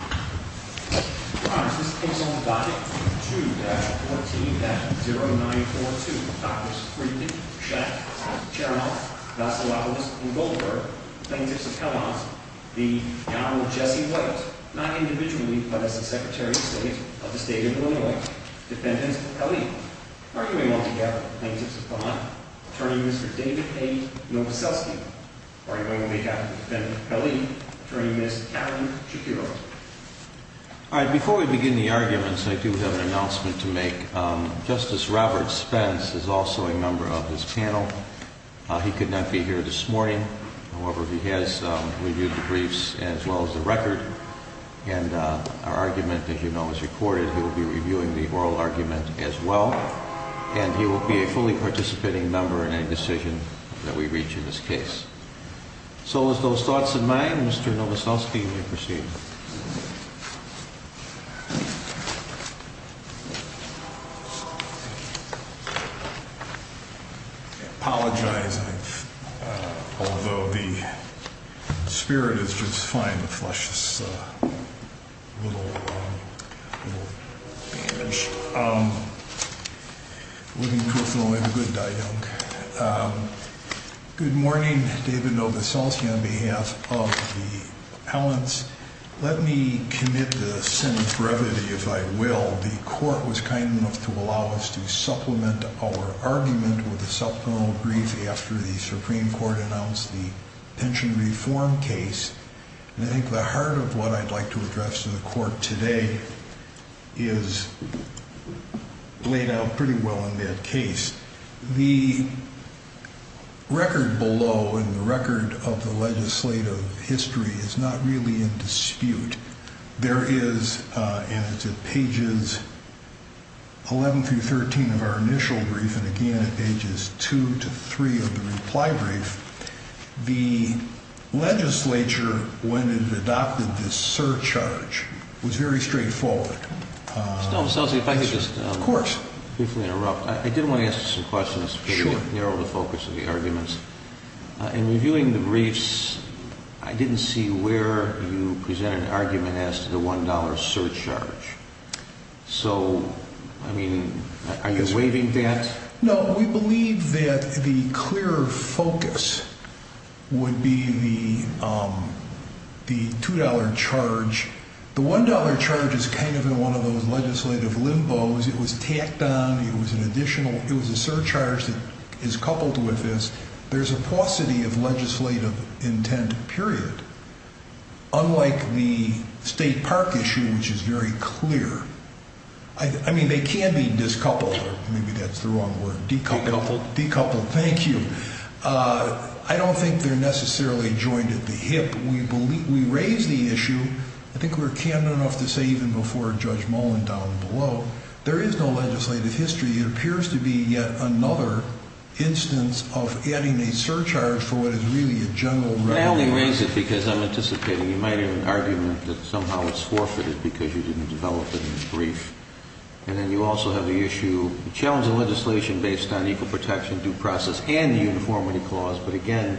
2-14-0942 Drs. Friedman, Schatz, Chernoff, Vasilopoulos, and Goldberg Plaintiffs of Hellas, the Governor Jesse White, not individually, but as the Secretary of State of the State of Illinois Defendant Kelly, arguing altogether Plaintiffs of Hellas, Attorney Mr. David A. Novoselsky Plaintiffs of Hellas, Attorney Mr. Kevin Shapiro So, with those thoughts in mind, Mr. Novoselsky, you may proceed. I apologize, although the spirit is just fine to flush this little bandage. Good morning, David Novoselsky, on behalf of the appellants. Let me commit the sin of brevity, if I will. The Court was kind enough to allow us to supplement our argument with a supplemental brief after the Supreme Court announced the pension reform case. I think the heart of what I'd like to address to the Court today is laid out pretty well in that case. The record below, and the record of the legislative history, is not really in dispute. There is, and it's at pages 11-13 of our initial brief, and again at pages 2-3 of the reply brief, the legislature, when it adopted this surcharge, was very straightforward. Mr. Novoselsky, if I could just briefly interrupt. I did want to ask you some questions to narrow the focus of the arguments. In reviewing the briefs, I didn't see where you presented an argument as to the $1 surcharge. So, I mean, are you waiving that? No, we believe that the clearer focus would be the $2 charge. The $1 charge is kind of in one of those legislative limbo's. It was tacked on, it was an additional, it was a surcharge that is coupled with this. There's a paucity of legislative intent, period. Unlike the state park issue, which is very clear. I mean, they can be discoupled, or maybe that's the wrong word. Decoupled, thank you. I don't think they're necessarily joined at the hip. We raised the issue, I think we were candid enough to say even before Judge Mullen down below, there is no legislative history. It appears to be yet another instance of adding a surcharge for what is really a general revenue. I only raise it because I'm anticipating you might have an argument that somehow it's forfeited because you didn't develop it in brief. And then you also have the issue, challenging legislation based on equal protection, due process, and the uniformity clause. But again,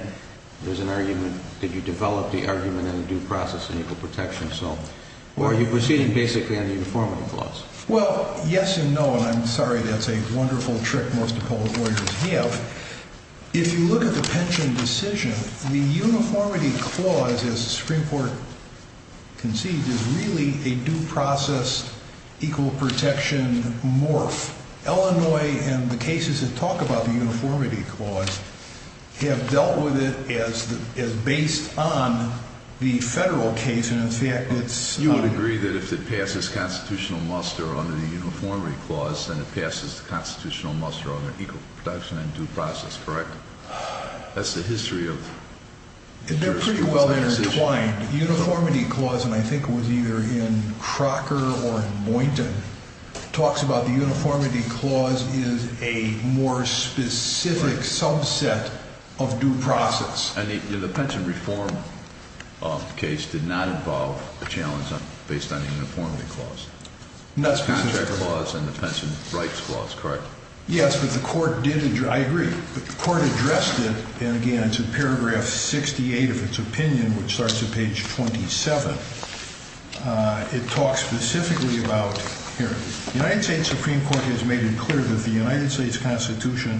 there's an argument, did you develop the argument in due process and equal protection? Or are you proceeding basically on the uniformity clause? Well, yes and no, and I'm sorry that's a wonderful trick most appellate lawyers have. If you look at the pension decision, the uniformity clause, as the Supreme Court conceived, is really a due process, equal protection morph. Illinois and the cases that talk about the uniformity clause have dealt with it as based on the federal case, and in fact it's... You would agree that if it passes constitutional muster under the uniformity clause, then it passes the constitutional muster under equal protection and due process, correct? That's the history of... They're pretty well intertwined. The uniformity clause, and I think it was either in Crocker or in Boynton, talks about the uniformity clause is a more specific subset of due process. And the pension reform case did not involve a challenge based on the uniformity clause? Not specifically. The contract clause and the pension rights clause, correct? Yes, but the court did... I agree. The court addressed it, and again it's in paragraph 68 of its opinion, which starts at page 27. It talks specifically about... Here, the United States Supreme Court has made it clear that the United States Constitution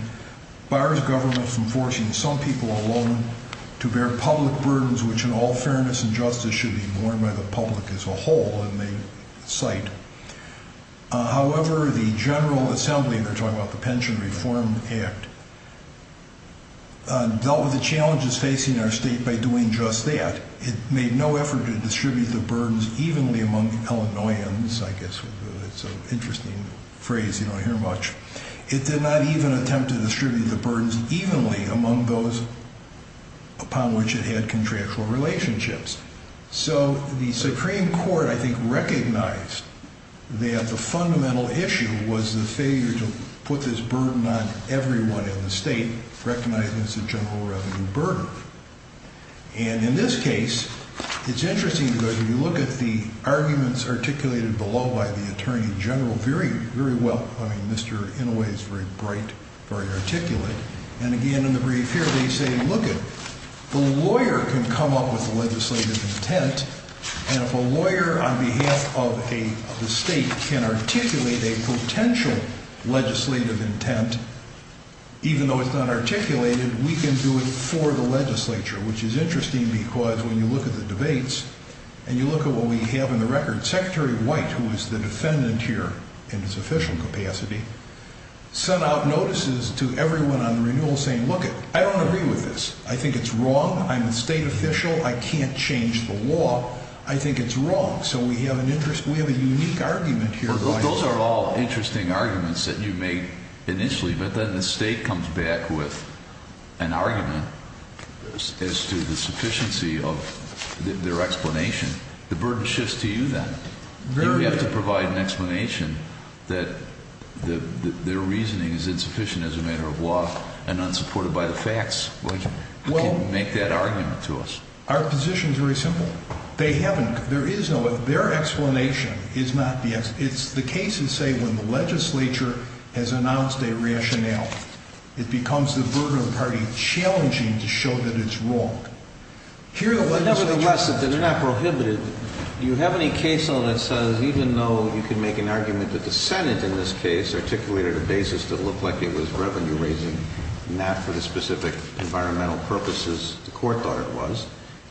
bars government from forcing some people alone to bear public burdens which in all fairness and justice should be borne by the public as a whole, it may cite. However, the General Assembly, they're talking about the Pension Reform Act, dealt with the challenges facing our state by doing just that. It made no effort to distribute the burdens evenly among Illinoisans, I guess it's an interesting phrase, you don't hear much. It did not even attempt to distribute the burdens evenly among those upon which it had contractual relationships. So the Supreme Court, I think, recognized that the fundamental issue was the failure to put this burden on everyone in the state, recognizing it's a general revenue burden. And in this case, it's interesting because if you look at the arguments articulated below by the Attorney General very well, I mean, Mr. Inouye is very bright, very articulate, and again in the brief here they say, look it, the lawyer can come up with legislative intent and if a lawyer on behalf of the state can articulate a potential legislative intent, even though it's not articulated, we can do it for the legislature, which is interesting because when you look at the debates, and you look at what we have in the record, Secretary White, who is the defendant here in his official capacity, sent out notices to everyone on the renewal saying, look it, I don't agree with this, I think it's wrong, I'm a state official, I can't change the law, I think it's wrong. So we have a unique argument here. Those are all interesting arguments that you made initially, but then the state comes back with an argument as to the sufficiency of their explanation. The burden shifts to you then. You have to provide an explanation that their reasoning is insufficient as a matter of law and unsupported by the facts. How can you make that argument to us? Our position is very simple. Their explanation is not the explanation. The cases say when the legislature has announced a rationale, it becomes the burden of the party challenging to show that it's wrong. Nevertheless, they're not prohibited. Do you have any case law that says even though you can make an argument that the Senate in this case articulated a basis that looked like it was revenue raising, not for the specific environmental purposes the court thought it was, do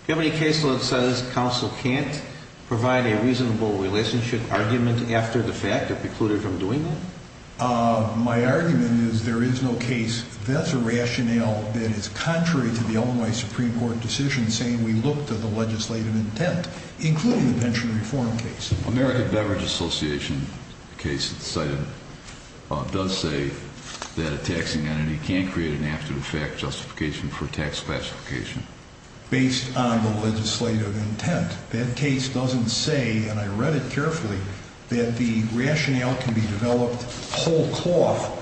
you have any case law that says counsel can't provide a reasonable relationship argument after the fact or preclude it from doing that? My argument is there is no case. That's a rationale that is contrary to the Illinois Supreme Court decision saying we look to the legislative intent, including the pension reform case. The American Beverage Association case cited does say that a taxing entity can't create an after-the-fact justification for tax classification. Based on the legislative intent. That case doesn't say, and I read it carefully, that the rationale can be developed whole cloth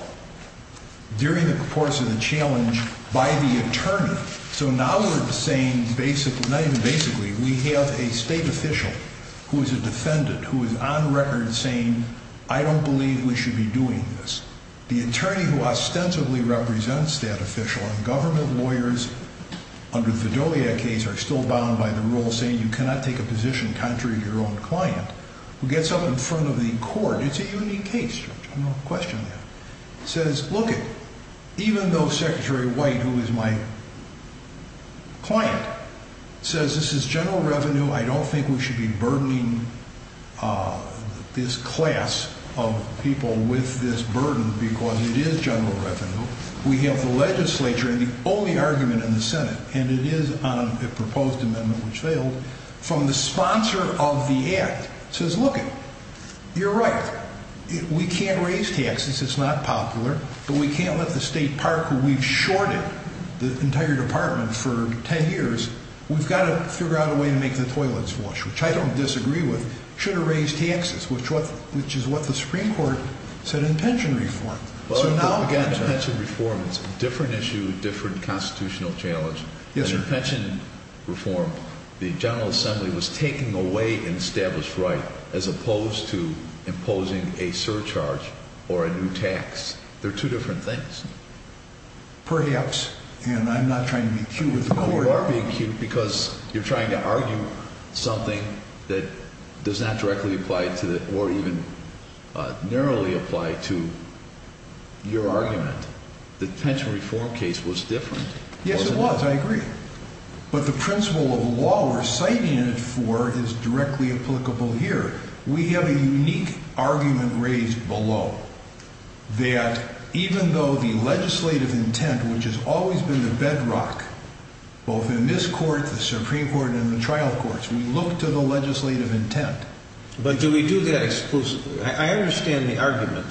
during the course of the challenge by the attorney. So now we're saying basically, not even basically, we have a state official who is a defendant who is on record saying, I don't believe we should be doing this. The attorney who ostensibly represents that official, and government lawyers under the Fidelia case are still bound by the rule saying you cannot take a position contrary to your own client, who gets up in front of the court. It's a unique case, Judge, I'm not questioning that. Says, look it, even though Secretary White, who is my client, says this is general revenue, I don't think we should be burdening this class of people with this burden because it is general revenue. We have the legislature and the only argument in the Senate, and it is on a proposed amendment which failed, from the sponsor of the act. Says, look it, you're right, we can't raise taxes, it's not popular, but we can't let the state park who we've shorted the entire department for ten years, we've got to figure out a way to make the toilets wash, which I don't disagree with. Should have raised taxes, which is what the Supreme Court said in pension reform. Again, pension reform is a different issue, different constitutional challenge. In pension reform, the General Assembly was taking away an established right, as opposed to imposing a surcharge or a new tax. They're two different things. Perhaps, and I'm not trying to be cute with the court. You are being cute because you're trying to argue something that does not directly apply to, or even narrowly apply to your argument. The pension reform case was different. Yes, it was, I agree. But the principle of law we're citing it for is directly applicable here. We have a unique argument raised below, that even though the legislative intent, which has always been the bedrock, both in this court, the Supreme Court, and the trial courts, we look to the legislative intent. But do we do that exclusively? I understand the argument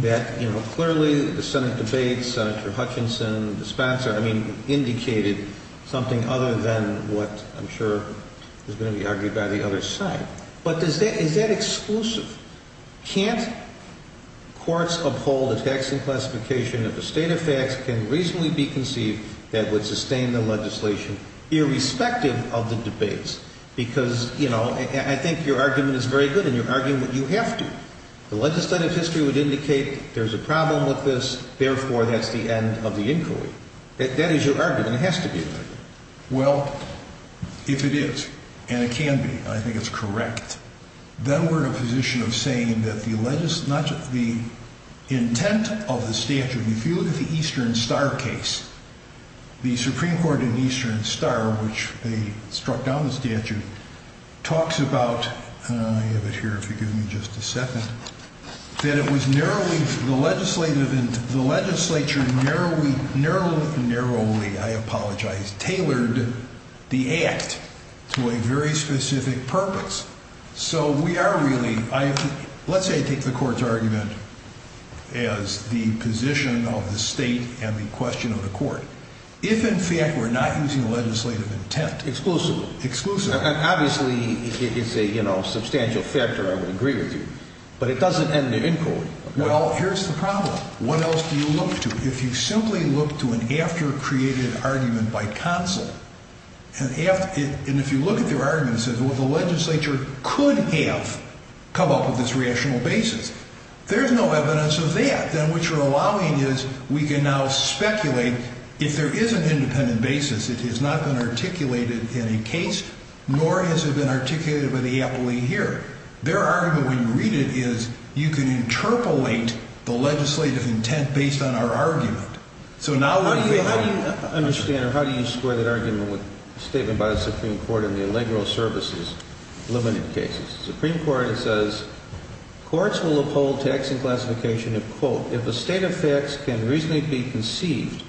that clearly the Senate debate, Senator Hutchinson, the sponsor, indicated something other than what I'm sure is going to be argued by the other side. But is that exclusive? Can't courts uphold a taxing classification if a state of facts can reasonably be conceived that would sustain the legislation irrespective of the debates? Because, you know, I think your argument is very good, and you're arguing what you have to. The legislative history would indicate there's a problem with this, therefore that's the end of the inquiry. That is your argument. It has to be. Well, if it is, and it can be, and I think it's correct, then we're in a position of saying that the intent of the statute, if you look at the Eastern Star case, the Supreme Court in Eastern Star, which they struck down the statute, talks about, I have it here if you give me just a second, that it was narrowly, the legislature narrowly, I apologize, tailored the act to a very specific purpose. So we are really, let's say I take the court's argument as the position of the state and the question of the court. If, in fact, we're not using the legislative intent exclusively. And obviously it's a substantial factor, I would agree with you, but it doesn't end the inquiry. Well, here's the problem. What else do you look to? If you simply look to an after-created argument by counsel, and if you look at their argument and say, well, the legislature could have come up with this rational basis, there's no evidence of that. In fact, then what you're allowing is we can now speculate, if there is an independent basis, it has not been articulated in a case, nor has it been articulated by the appellee here. Their argument, when you read it, is you can interpolate the legislative intent based on our argument. So now we're saying... How do you understand or how do you score that argument with a statement by the Supreme Court in the Allegro services limited cases? The Supreme Court says courts will uphold tax and classification of, quote, if a state of facts can reasonably be conceived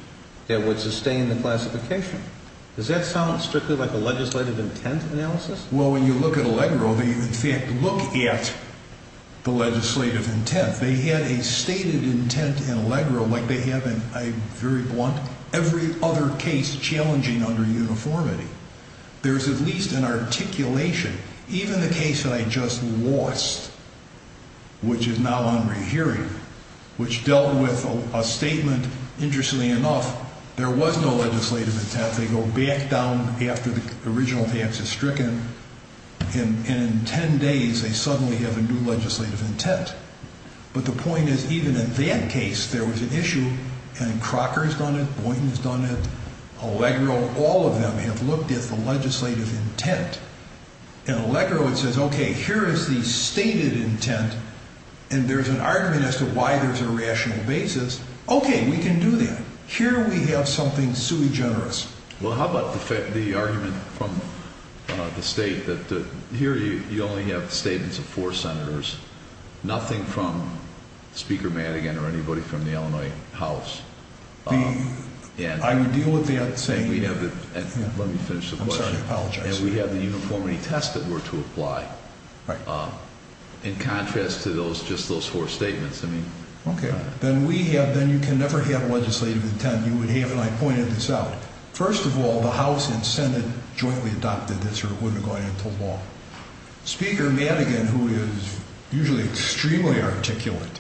that would sustain the classification. Does that sound strictly like a legislative intent analysis? Well, when you look at Allegro, they in fact look at the legislative intent. They had a stated intent in Allegro like they have in, I'm very blunt, every other case challenging under uniformity. There's at least an articulation. Even the case that I just lost, which is now on rehearing, which dealt with a statement, interestingly enough, there was no legislative intent. They go back down after the original tax is stricken, and in ten days they suddenly have a new legislative intent. But the point is even in that case there was an issue, and Crocker's done it, Boynton's done it, Allegro, all of them have looked at the legislative intent. In Allegro it says, okay, here is the stated intent, and there's an argument as to why there's a rational basis. Okay, we can do that. Here we have something sui generis. Well, how about the argument from the state that here you only have statements of four senators, nothing from Speaker Madigan or anybody from the Illinois House? I would deal with that saying... Let me finish the question. I'm sorry, I apologize. And we have the uniformity test that were to apply. Right. In contrast to just those four statements. Okay, then you can never have legislative intent. You would have, and I pointed this out, first of all, the House and Senate jointly adopted this or it wouldn't have gone into law. Speaker Madigan, who is usually extremely articulate,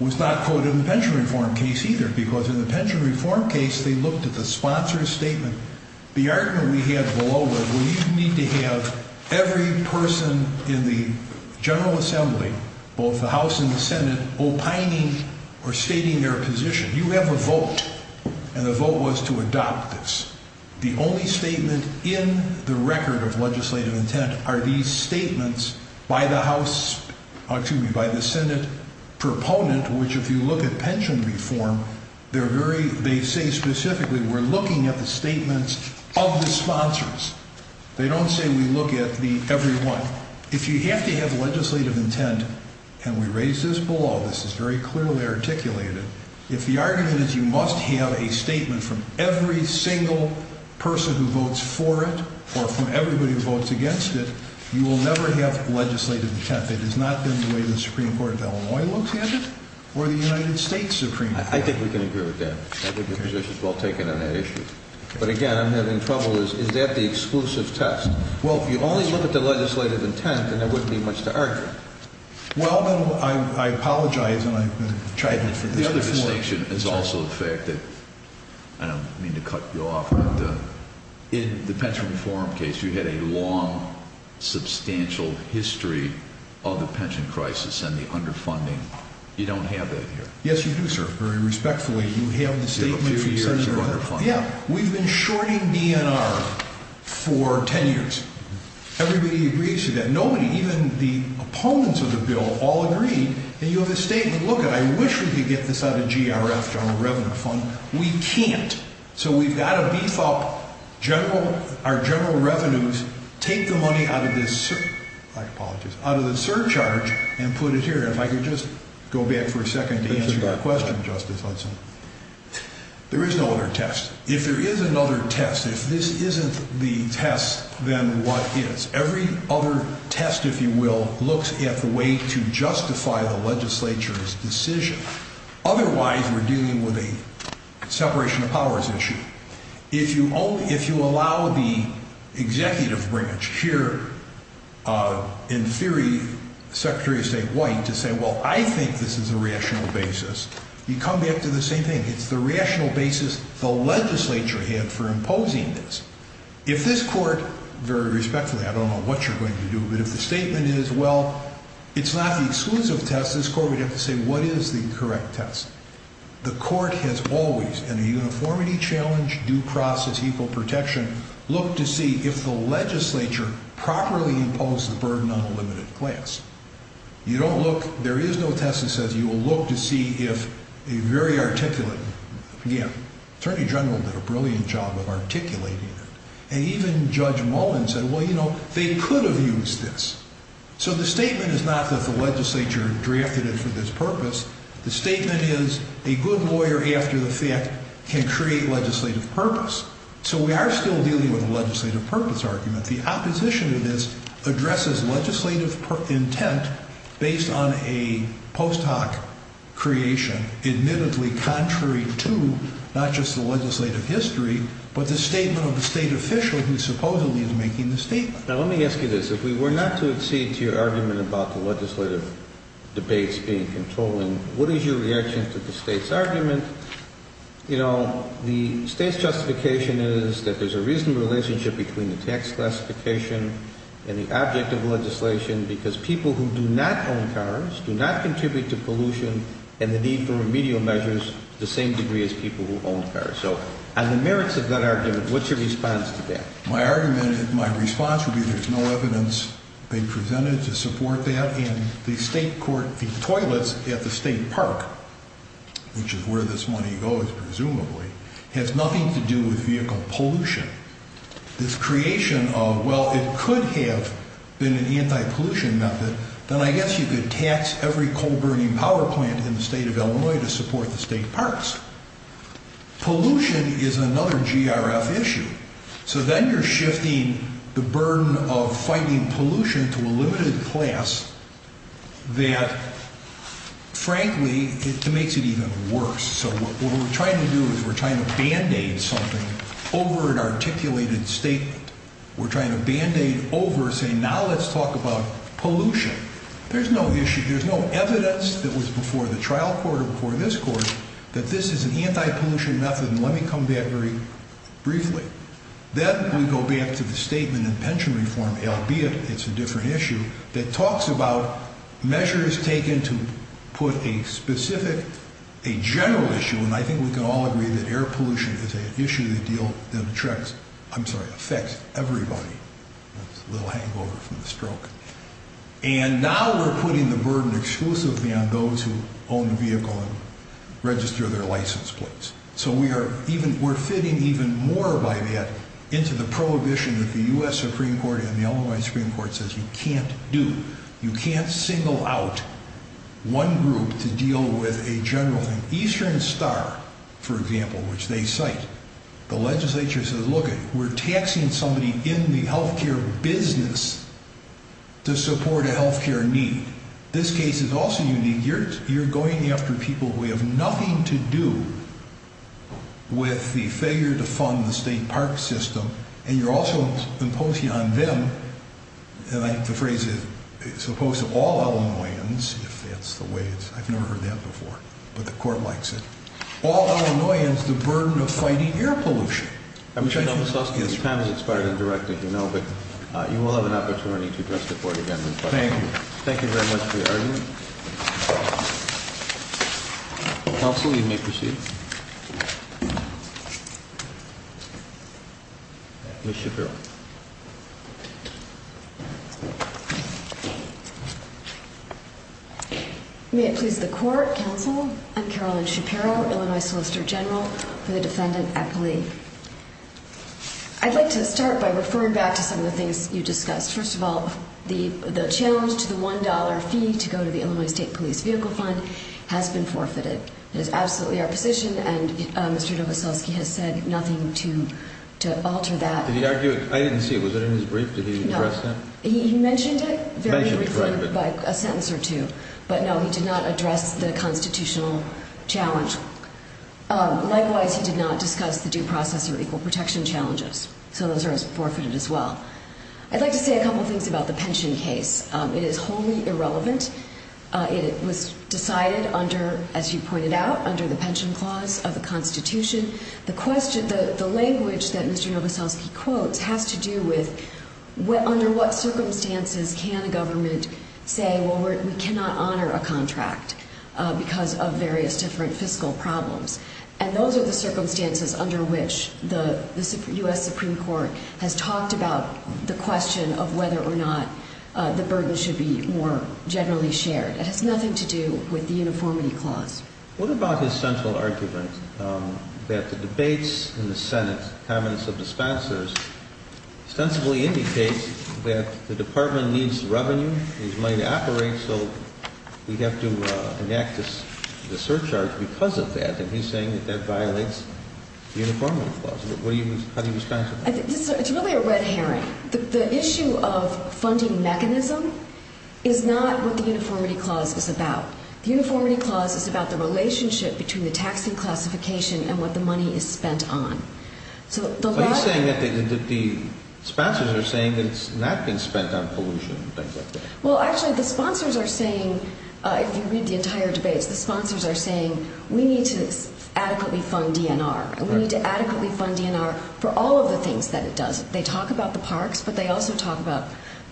was not quoted in the pension reform case either, because in the pension reform case they looked at the sponsor's statement. The argument we had below was, well, you need to have every person in the General Assembly, both the House and the Senate, opining or stating their position. You have a vote, and the vote was to adopt this. The only statement in the record of legislative intent are these statements by the Senate proponent, which if you look at pension reform, they say specifically we're looking at the statements of the sponsors. They don't say we look at every one. If you have to have legislative intent, and we raised this below, this is very clearly articulated, if the argument is you must have a statement from every single person who votes for it or from everybody who votes against it, you will never have legislative intent. That has not been the way the Supreme Court of Illinois looks at it or the United States Supreme Court. I think we can agree with that. I think the position is well taken on that issue. But again, I'm having trouble. Is that the exclusive test? Well, if you only look at the legislative intent, then there wouldn't be much to argue. Well, I apologize, and I'm going to try to get to the other four. It's also the fact that, I don't mean to cut you off, but in the pension reform case, you had a long, substantial history of the pension crisis and the underfunding. You don't have that here. Yes, you do, sir. Very respectfully, you have the statement. You have a few years of underfunding. Yeah. We've been shorting DNR for ten years. Everybody agrees to that. And nobody, even the opponents of the bill, all agree. And you have a statement. Look, I wish we could get this out of GRF, General Revenue Fund. We can't. So we've got to beef up our general revenues, take the money out of the surcharge, and put it here. If I could just go back for a second to answer your question, Justice Hudson. There is no other test. If there is another test, if this isn't the test, then what is? Every other test, if you will, looks at the way to justify the legislature's decision. Otherwise, we're dealing with a separation of powers issue. If you allow the executive branch here, in theory, Secretary of State White, to say, well, I think this is a rational basis, you come back to the same thing. It's the rational basis the legislature had for imposing this. If this court, very respectfully, I don't know what you're going to do, but if the statement is, well, it's not the exclusive test, this court would have to say, what is the correct test? The court has always, in a uniformity challenge, due process, equal protection, looked to see if the legislature properly imposed the burden on a limited class. You don't look, there is no test that says you will look to see if a very articulate, again, Attorney General did a brilliant job of articulating it, and even Judge Mullen said, well, you know, they could have used this. So the statement is not that the legislature drafted it for this purpose. The statement is, a good lawyer after the fact can create legislative purpose. So we are still dealing with a legislative purpose argument. The opposition to this addresses legislative intent based on a post hoc creation, admittedly contrary to not just the legislative history, but the statement of the state official who supposedly is making the statement. Now let me ask you this. If we were not to accede to your argument about the legislative debates being controlled, what is your reaction to the state's argument? You know, the state's justification is that there's a reasonable relationship between the tax classification and the object of legislation because people who do not own cars do not contribute to pollution and the need for remedial measures to the same degree as people who own cars. So on the merits of that argument, what's your response to that? My argument, my response would be there's no evidence being presented to support that, and the state court, the toilets at the state park, which is where this money goes presumably, has nothing to do with vehicle pollution. This creation of, well, it could have been an anti-pollution method, then I guess you could tax every coal burning power plant in the state of Illinois to support the state parks. Pollution is another GRF issue. So then you're shifting the burden of fighting pollution to a limited class that, frankly, it makes it even worse. So what we're trying to do is we're trying to band-aid something over an articulated statement. We're trying to band-aid over, say, now let's talk about pollution. There's no issue, there's no evidence that was before the trial court or before this court that this is an anti-pollution method, and let me come back very briefly. Then we go back to the statement in pension reform, albeit it's a different issue, that talks about measures taken to put a specific, a general issue, and I think we can all agree that air pollution is an issue that affects everybody. That's a little hangover from the stroke. And now we're putting the burden exclusively on those who own a vehicle and register their license plates. So we're fitting even more by that into the prohibition that the U.S. Supreme Court and the Illinois Supreme Court says you can't do, you can't single out one group to deal with a general thing. Eastern Star, for example, which they cite, the legislature says look, we're taxing somebody in the health care business to support a health care need. This case is also unique. You're going after people who have nothing to do with the failure to fund the state park system, and you're also imposing on them, and the phrase is, as opposed to all Illinoisans, if that's the way it's, I've never heard that before, but the court likes it, all Illinoisans the burden of fighting air pollution. I wish I'd known this last year. This panel is inspired and directed, you know, but you will have an opportunity to address the board again. Thank you. Thank you very much for your argument. Counsel, you may proceed. Ms. Shapiro. May it please the court, counsel. I'm Carolyn Shapiro, Illinois Solicitor General for the Defendant Accolade. I'd like to start by referring back to some of the things you discussed. First of all, the challenge to the $1 fee to go to the Illinois State Police Vehicle Fund has been forfeited. It is absolutely our position, and Mr. Dovosowski has said nothing to alter that. Did he argue it? I didn't see it. Was it in his brief? Did he address that? He mentioned it very briefly by a sentence or two, but no, he did not address the constitutional challenge. Likewise, he did not discuss the due process or equal protection challenges, so those are forfeited as well. I'd like to say a couple of things about the pension case. It is wholly irrelevant. It was decided under, as you pointed out, under the pension clause of the Constitution. The language that Mr. Dovosowski quotes has to do with under what circumstances can a government say, well, we cannot honor a contract because of various different fiscal problems. And those are the circumstances under which the U.S. Supreme Court has talked about the question of whether or not the burden should be more generally shared. It has nothing to do with the uniformity clause. What about his central argument that the debates in the Senate, the cabinets of dispensers, ostensibly indicate that the Department needs revenue, needs money to operate, so we have to enact the surcharge because of that, and he's saying that that violates the uniformity clause. How do you respond to that? It's really a red herring. The issue of funding mechanism is not what the uniformity clause is about. The uniformity clause is about the relationship between the taxing classification and what the money is spent on. Are you saying that the sponsors are saying that it's not been spent on pollution and things like that? Well, actually, the sponsors are saying, if you read the entire debates, the sponsors are saying, we need to adequately fund DNR, and we need to adequately fund DNR for all of the things that it does. They talk about the parks, but they also talk about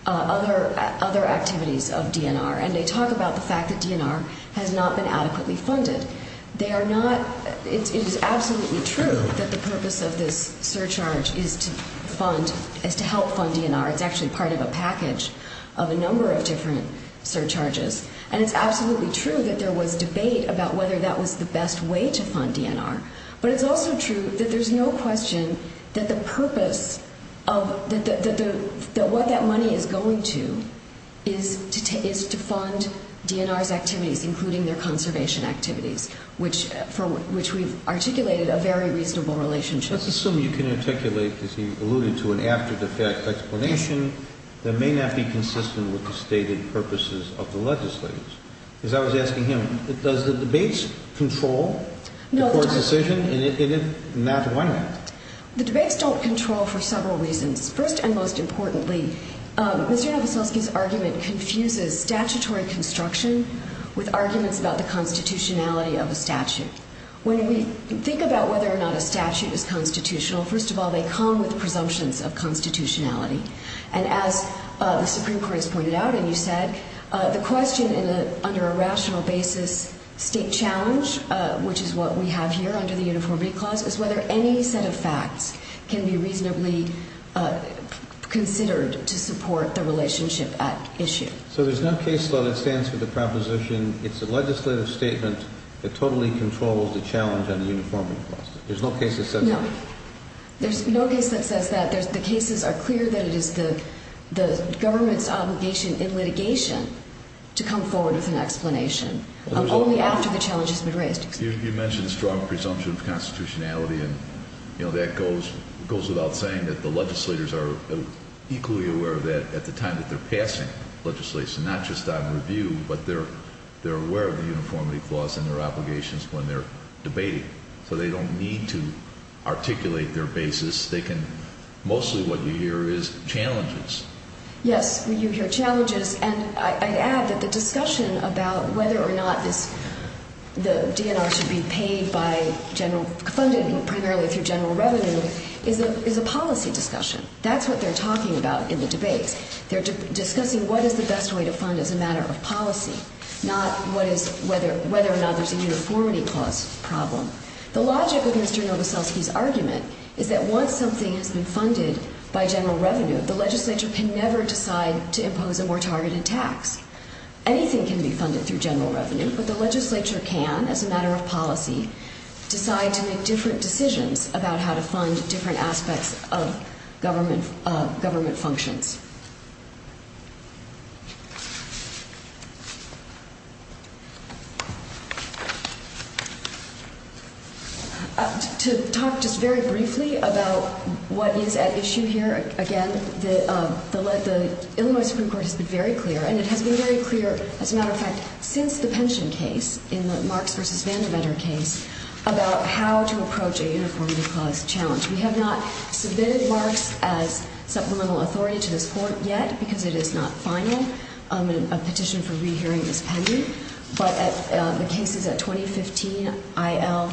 other activities of DNR, and they talk about the fact that DNR has not been adequately funded. It is absolutely true that the purpose of this surcharge is to help fund DNR. It's actually part of a package of a number of different surcharges, and it's absolutely true that there was debate about whether that was the best way to fund DNR, but it's also true that there's no question that the purpose of what that money is going to is to fund DNR's activities, including their conservation activities, for which we've articulated a very reasonable relationship. Let's assume you can articulate, as he alluded to, an after-the-fact explanation that may not be consistent with the stated purposes of the legislators. As I was asking him, does the debates control the court's decision, and if not, why not? The debates don't control for several reasons. First and most importantly, Mr. Novoselsky's argument confuses statutory construction with arguments about the constitutionality of a statute. When we think about whether or not a statute is constitutional, first of all, they come with presumptions of constitutionality. And as the Supreme Court has pointed out, and you said, the question under a rational basis, state challenge, which is what we have here under the Uniformity Clause, is whether any set of facts can be reasonably considered to support the relationship at issue. So there's no case law that stands for the proposition, it's a legislative statement that totally controls the challenge under the Uniformity Clause? There's no case that says that? No. There's no case that says that. The cases are clear that it is the government's obligation in litigation to come forward with an explanation, only after the challenge has been raised. You mentioned a strong presumption of constitutionality, and that goes without saying that the legislators are equally aware of that at the time that they're passing legislation, not just on review, but they're aware of the Uniformity Clause and their obligations when they're debating. So they don't need to articulate their basis. They can, mostly what you hear is challenges. Yes, you hear challenges, and I'd add that the discussion about whether or not this, the DNR should be paid by general, funded primarily through general revenue, is a policy discussion. That's what they're talking about in the debates. They're discussing what is the best way to fund as a matter of policy, not whether or not there's a Uniformity Clause problem. The logic of Mr. Novoselsky's argument is that once something has been funded by general revenue, the legislature can never decide to impose a more targeted tax. Anything can be funded through general revenue, but the legislature can, as a matter of policy, decide to make different decisions about how to fund different aspects of government functions. To talk just very briefly about what is at issue here, again, the Illinois Supreme Court has been very clear, and it has been very clear, as a matter of fact, since the pension case, in the Marks v. Vandermetter case, about how to approach a Uniformity Clause challenge. We have not submitted Marks as supplemental authority to this Court yet, because it is not final, a petition for rehearing this pending, but the case is at 2015 IL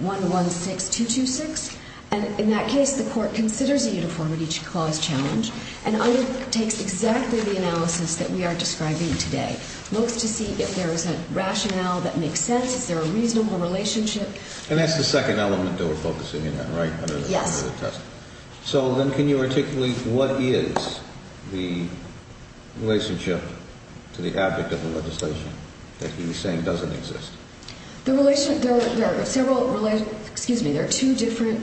116226, and in that case, the Court considers a Uniformity Clause challenge and undertakes exactly the analysis that we are describing today. It looks to see if there is a rationale that makes sense, is there a reasonable relationship? And that's the second element that we're focusing on, right? Yes. So then can you articulate what is the relationship to the abject of the legislation that he's saying doesn't exist? There are two different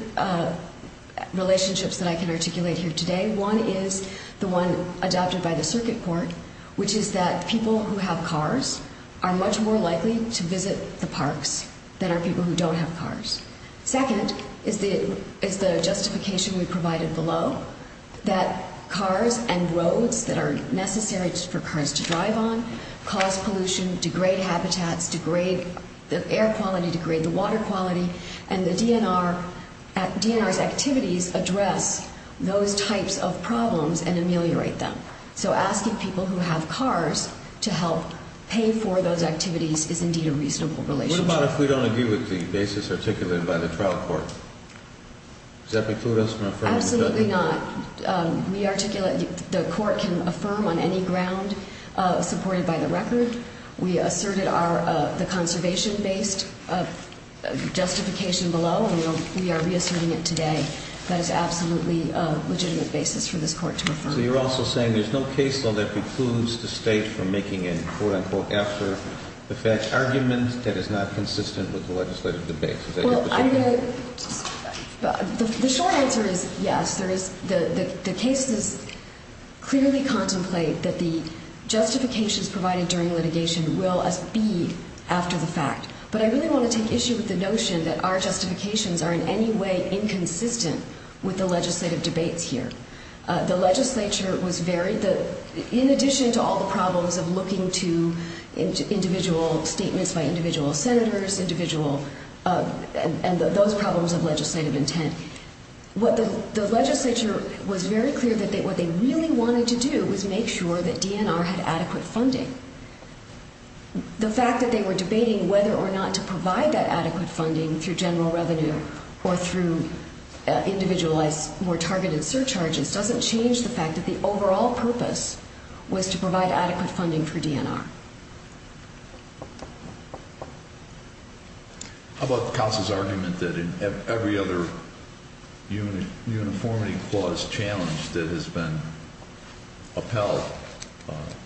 relationships that I can articulate here today. One is the one adopted by the Circuit Court, which is that people who have cars are much more likely to visit the parks than are people who don't have cars. Second is the justification we provided below, that cars and roads that are necessary for cars to drive on cause pollution, degrade habitats, degrade the air quality, degrade the water quality, and the DNR's activities address those types of problems and ameliorate them. So asking people who have cars to help pay for those activities is indeed a reasonable relationship. What about if we don't agree with the basis articulated by the trial court? Does that preclude us from affirming the judgment? Absolutely not. The Court can affirm on any ground supported by the record. We asserted the conservation-based justification below, and we are reasserting it today. That is absolutely a legitimate basis for this Court to affirm. So you're also saying there's no case law that precludes the State from making a quote-unquote after-the-fetch argument that is not consistent with the legislative debate? Well, the short answer is yes. The cases clearly contemplate that the justifications provided during litigation will be after the fact. But I really want to take issue with the notion that our justifications are in any way inconsistent with the legislative debates here. The legislature was very, in addition to all the problems of looking to individual statements by individual senators and those problems of legislative intent, the legislature was very clear that what they really wanted to do was make sure that DNR had adequate funding. The fact that they were debating whether or not to provide that adequate funding through general revenue or through individualized, more targeted surcharges doesn't change the fact that the overall purpose was to provide adequate funding for DNR. How about the counsel's argument that in every other uniformity clause challenge that has been upheld,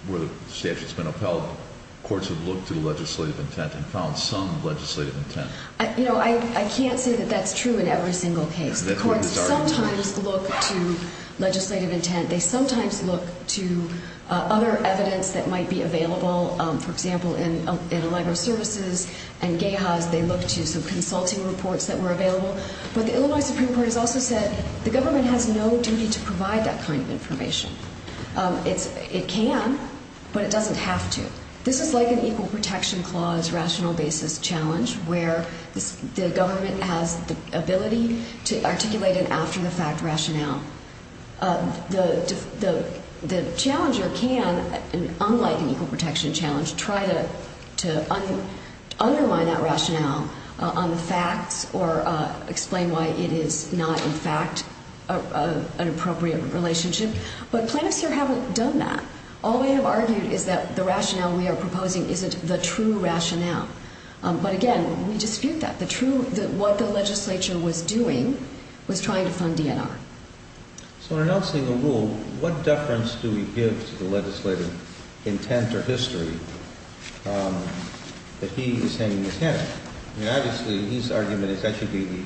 where the statute has been upheld, courts have looked to legislative intent and found some legislative intent? You know, I can't say that that's true in every single case. The courts sometimes look to legislative intent. They sometimes look to other evidence that might be available. For example, in the library services and GAHAs, they looked to some consulting reports that were available. But the Illinois Supreme Court has also said the government has no duty to provide that kind of information. It can, but it doesn't have to. This is like an equal protection clause rational basis challenge, where the government has the ability to articulate an after-the-fact rationale. The challenger can, unlike an equal protection challenge, try to underline that rationale on the facts or explain why it is not, in fact, an appropriate relationship. But plaintiffs here haven't done that. All they have argued is that the rationale we are proposing isn't the true rationale. But again, we dispute that. What the legislature was doing was trying to fund DNR. So in announcing a rule, what deference do we give to the legislative intent or history that he is hanging his head? I mean, obviously, his argument is that should be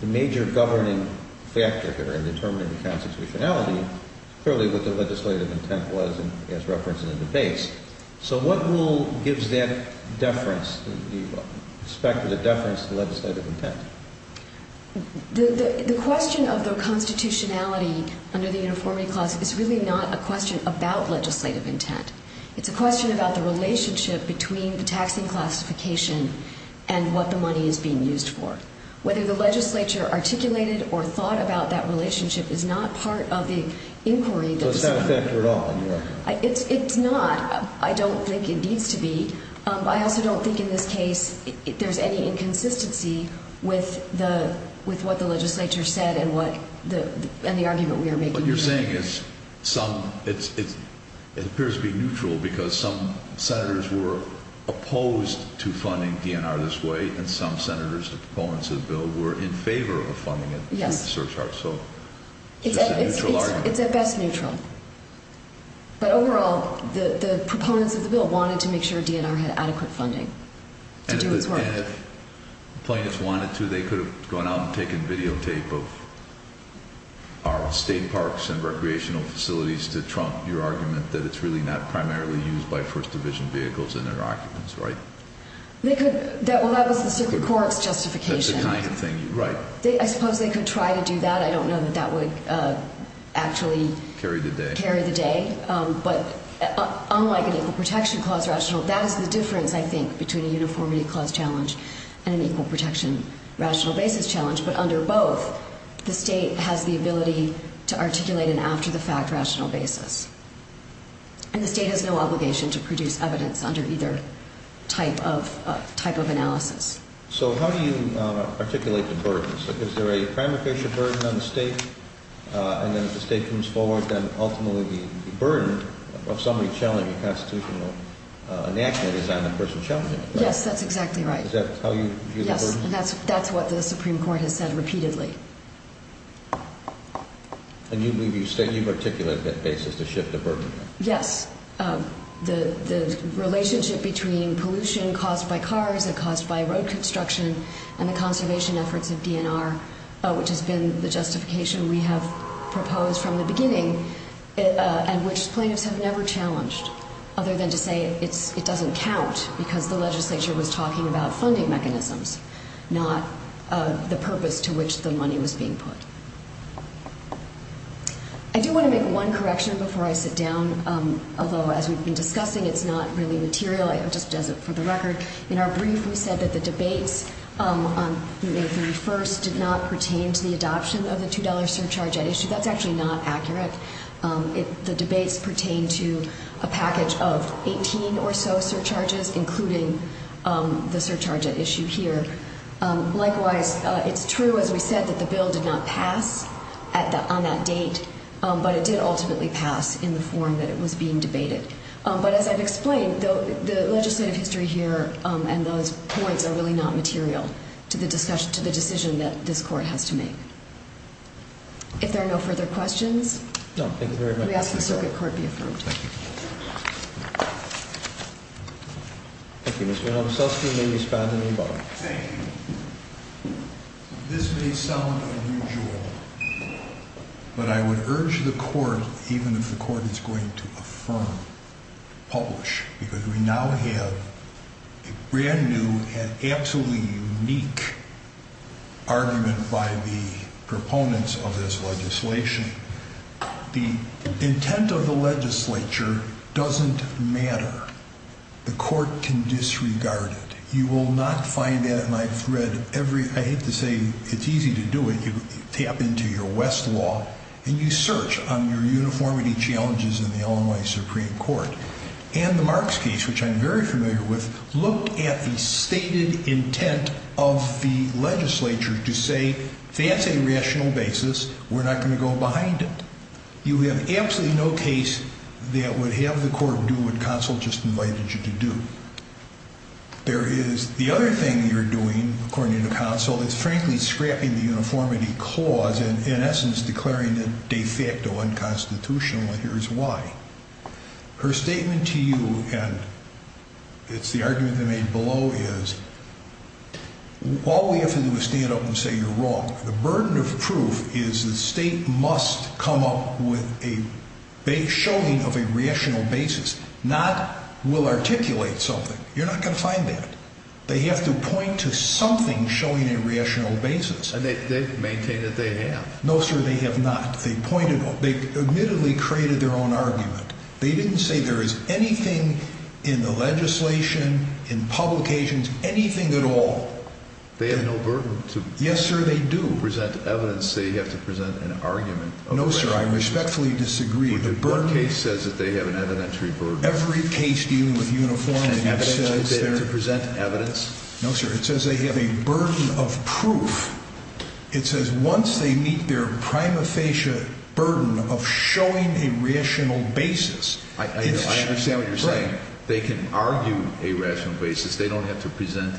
the major governing factor here in determining the constitutionality, clearly what the legislative intent was as referenced in the debates. So what rule gives that deference, the aspect of the deference to the legislative intent? The question of the constitutionality under the Uniformity Clause is really not a question about legislative intent. It's a question about the relationship between the taxing classification and what the money is being used for. Whether the legislature articulated or thought about that relationship is not part of the inquiry. So it's not a factor at all in your opinion? It's not. I don't think it needs to be. I also don't think in this case there's any inconsistency with what the legislature said and the argument we are making. What you're saying is it appears to be neutral because some senators were opposed to funding DNR this way and some senators, the proponents of the bill, were in favor of funding it. Yes. So it's a neutral argument. It's at best neutral. But overall, the proponents of the bill wanted to make sure DNR had adequate funding to do its work. And if plaintiffs wanted to, they could have gone out and taken videotape of our state parks and recreational facilities to trump your argument that it's really not primarily used by First Division vehicles and their occupants, right? Well, that was the Circuit Court's justification. That's the kind of thing, right. I suppose they could try to do that. I don't know that that would actually… Carry the day. Carry the day. But unlike an Equal Protection Clause rationale, that is the difference, I think, between a uniformity clause challenge and an Equal Protection rationale basis challenge. But under both, the state has the ability to articulate an after-the-fact rationale basis. And the state has no obligation to produce evidence under either type of analysis. So how do you articulate the burdens? Is there a primary pressure burden on the state? And then if the state comes forward, then ultimately the burden of somebody challenging a Constitutional enactment is on the person challenging it, right? Yes, that's exactly right. Is that how you view the burden? Yes, and that's what the Supreme Court has said repeatedly. And you believe you articulate that basis to shift the burden? Yes. The relationship between pollution caused by cars and caused by road construction and the conservation efforts of DNR, which has been the justification we have proposed from the beginning and which plaintiffs have never challenged, other than to say it doesn't count because the legislature was talking about funding mechanisms, not the purpose to which the money was being put. I do want to make one correction before I sit down. Although, as we've been discussing, it's not really material. It just does it for the record. In our brief, we said that the debates on May 31st did not pertain to the adoption of the $2 surcharge at issue. That's actually not accurate. The debates pertain to a package of 18 or so surcharges, including the surcharge at issue here. Likewise, it's true, as we said, that the bill did not pass on that date, but it did ultimately pass in the form that it was being debated. But as I've explained, the legislative history here and those points are really not material to the decision that this Court has to make. If there are no further questions, we ask that the Circuit Court be affirmed. Thank you. Thank you, Mr. Holmes. Let's hear from Ms. Baden-Ebach. Thank you. This may sound unusual, but I would urge the Court, even if the Court is going to affirm, publish, because we now have a brand-new and absolutely unique argument by the proponents of this legislation. The intent of the legislature doesn't matter. The Court can disregard it. You will not find that in my thread. I hate to say it's easy to do it. You tap into your Westlaw, and you search on your uniformity challenges in the Illinois Supreme Court. And the Marks case, which I'm very familiar with, looked at the stated intent of the legislature to say, if that's a rational basis, we're not going to go behind it. You have absolutely no case that would have the Court do what counsel just invited you to do. There is the other thing you're doing, according to counsel, that's frankly scrapping the uniformity clause and, in essence, declaring it de facto unconstitutional. And here's why. Her statement to you, and it's the argument they made below, is, all we have to do is stand up and say you're wrong. The burden of proof is the State must come up with a showing of a rational basis, not we'll articulate something. You're not going to find that. They have to point to something showing a rational basis. And they maintain that they have. No, sir, they have not. They admittedly created their own argument. They didn't say there is anything in the legislation, in publications, anything at all. They have no burden to present evidence. Yes, sir, they do. They have to present an argument. No, sir, I respectfully disagree. One case says that they have an evidentiary burden. Every case dealing with uniformity says they have to present evidence. No, sir, it says they have a burden of proof. It says once they meet their prima facie burden of showing a rational basis. I understand what you're saying. They can argue a rational basis. They don't have to present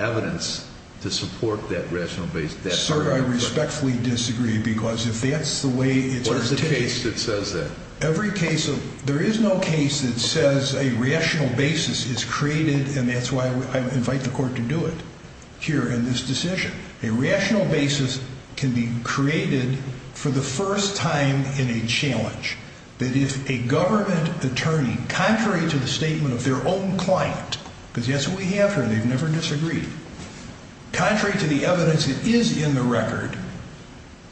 evidence to support that rational basis. Sir, I respectfully disagree because if that's the way it's articulated. What is the case that says that? There is no case that says a rational basis is created, and that's why I invite the Court to do it here in this decision. A rational basis can be created for the first time in a challenge. That if a government attorney, contrary to the statement of their own client, because that's who we have here. They've never disagreed. Contrary to the evidence that is in the record,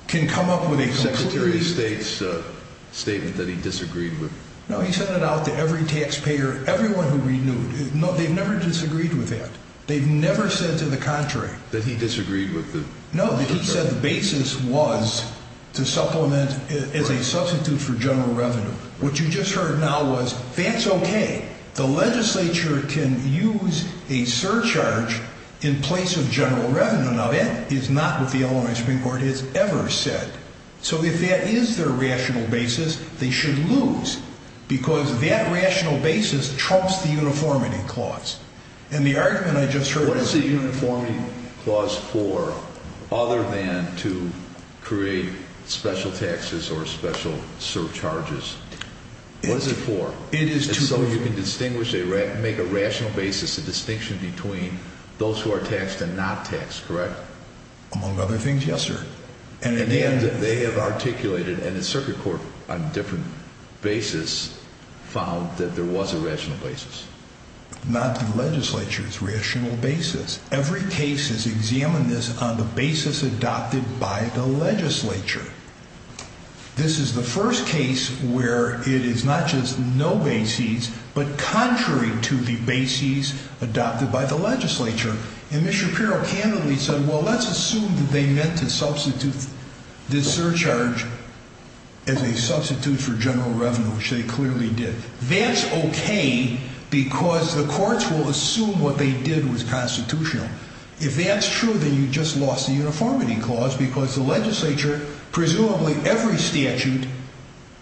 can come up with a completely different. The Secretary of State's statement that he disagreed with. No, he sent it out to every taxpayer, everyone who renewed. No, they've never disagreed with that. They've never said to the contrary. That he disagreed with the. No, he said the basis was to supplement as a substitute for general revenue. What you just heard now was, that's okay. The legislature can use a surcharge in place of general revenue. Now, that is not what the Illinois Supreme Court has ever said. So if that is their rational basis, they should lose because that rational basis trumps the uniformity clause. And the argument I just heard. What is the uniformity clause for, other than to create special taxes or special surcharges? What is it for? It is to. So you can distinguish, make a rational basis, a distinction between those who are taxed and not taxed, correct? Among other things, yes, sir. And in the end, they have articulated, and the circuit court on different basis, found that there was a rational basis. Not the legislature's rational basis. Every case has examined this on the basis adopted by the legislature. This is the first case where it is not just no basis, but contrary to the basis adopted by the legislature. And Mr. Shapiro candidly said, well, let's assume that they meant to substitute this surcharge as a substitute for general revenue, which they clearly did. That's okay, because the courts will assume what they did was constitutional. If that's true, then you just lost the uniformity clause, because the legislature, presumably every statute,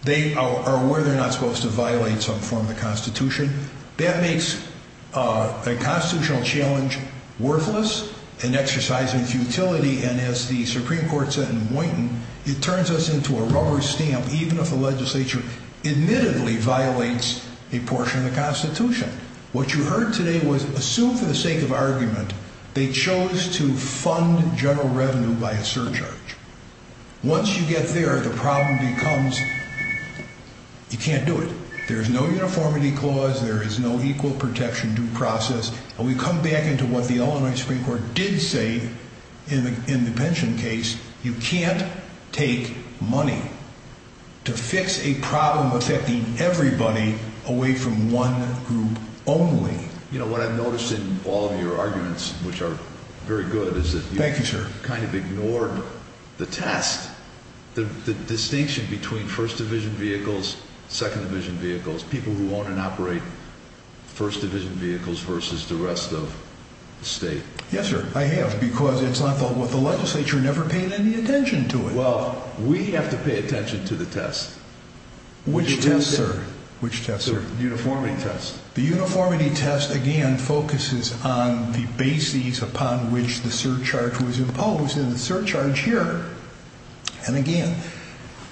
they are aware they're not supposed to violate some form of the Constitution. That makes a constitutional challenge worthless, an exercise in futility, and as the Supreme Court said in Boynton, it turns us into a rubber stamp, even if the legislature admittedly violates a portion of the Constitution. What you heard today was assumed for the sake of argument, they chose to fund general revenue by a surcharge. Once you get there, the problem becomes you can't do it. There's no uniformity clause, there is no equal protection due process, and we come back into what the Illinois Supreme Court did say in the pension case, you can't take money to fix a problem affecting everybody away from one group only. You know, what I've noticed in all of your arguments, which are very good, is that you kind of ignored the test, the distinction between First Division vehicles, Second Division vehicles, people who own and operate First Division vehicles versus the rest of the state. Yes, sir, I have, because the legislature never paid any attention to it. Well, we have to pay attention to the test. Which test, sir? Which test, sir? The uniformity test. The uniformity test, again, focuses on the bases upon which the surcharge was imposed, and the surcharge here, and again,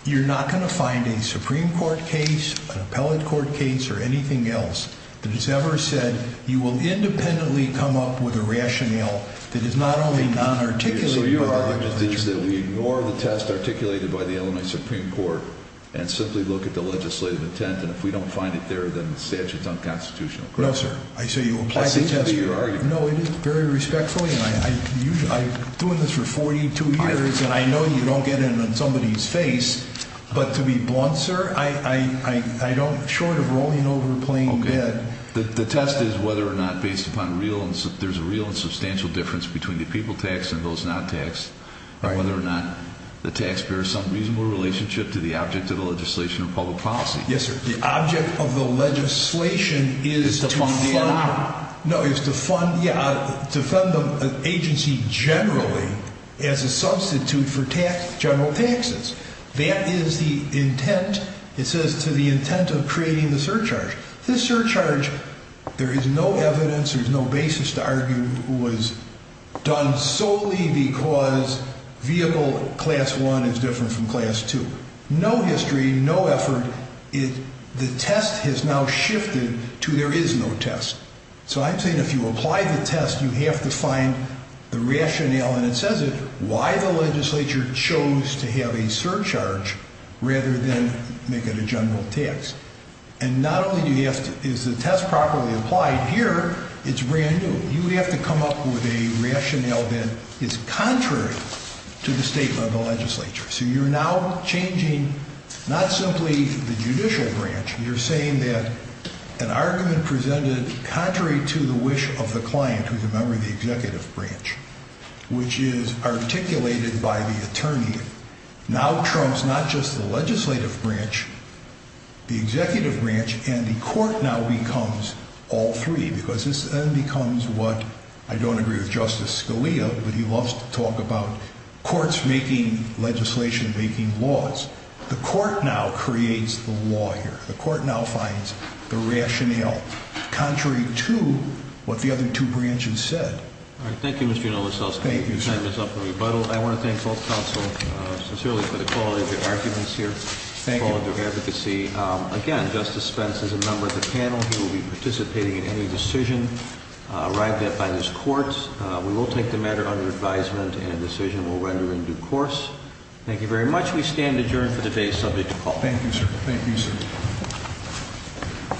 you're not going to find a Supreme Court case, an appellate court case, or anything else that has ever said that you will independently come up with a rationale that is not only non-articulate. So you're arguing that we ignore the test articulated by the Illinois Supreme Court and simply look at the legislative intent, and if we don't find it there, then the statute's unconstitutional, correct? No, sir, I say you apply the test. That seems to be your argument. No, it is very respectfully, and I'm doing this for 42 years, and I know you don't get it on somebody's face, but to be blunt, sir, I don't, short of rolling over a plain bed. The test is whether or not there's a real and substantial difference between the people tax and those not taxed, and whether or not the taxpayer has some reasonable relationship to the object of the legislation of public policy. Yes, sir. The object of the legislation is to fund the agency generally as a substitute for general taxes. That is the intent, it says, to the intent of creating the surcharge. This surcharge, there is no evidence, there's no basis to argue, was done solely because vehicle class one is different from class two. No history, no effort. The test has now shifted to there is no test. So I'm saying if you apply the test, you have to find the rationale, and it says it, why the legislature chose to have a surcharge rather than make it a general tax. And not only is the test properly applied here, it's brand new. You have to come up with a rationale that is contrary to the statement of the legislature. So you're now changing not simply the judicial branch, you're saying that an argument presented contrary to the wish of the client, who's a member of the executive branch, which is articulated by the attorney, now trumps not just the legislative branch, the executive branch, and the court now becomes all three. Because this then becomes what, I don't agree with Justice Scalia, but he loves to talk about courts making legislation, making laws. The court now creates the law here. The court now finds the rationale contrary to what the other two branches said. All right, thank you, Mr. Unovasos. Thank you, sir. Time is up for rebuttal. I want to thank both counsel sincerely for the quality of their arguments here, the quality of their advocacy. Again, Justice Spence is a member of the panel. He will be participating in any decision arrived at by this court. We will take the matter under advisement, and a decision will render in due course. Thank you very much. We stand adjourned for the day subject to call. Thank you, sir. Thank you, sir.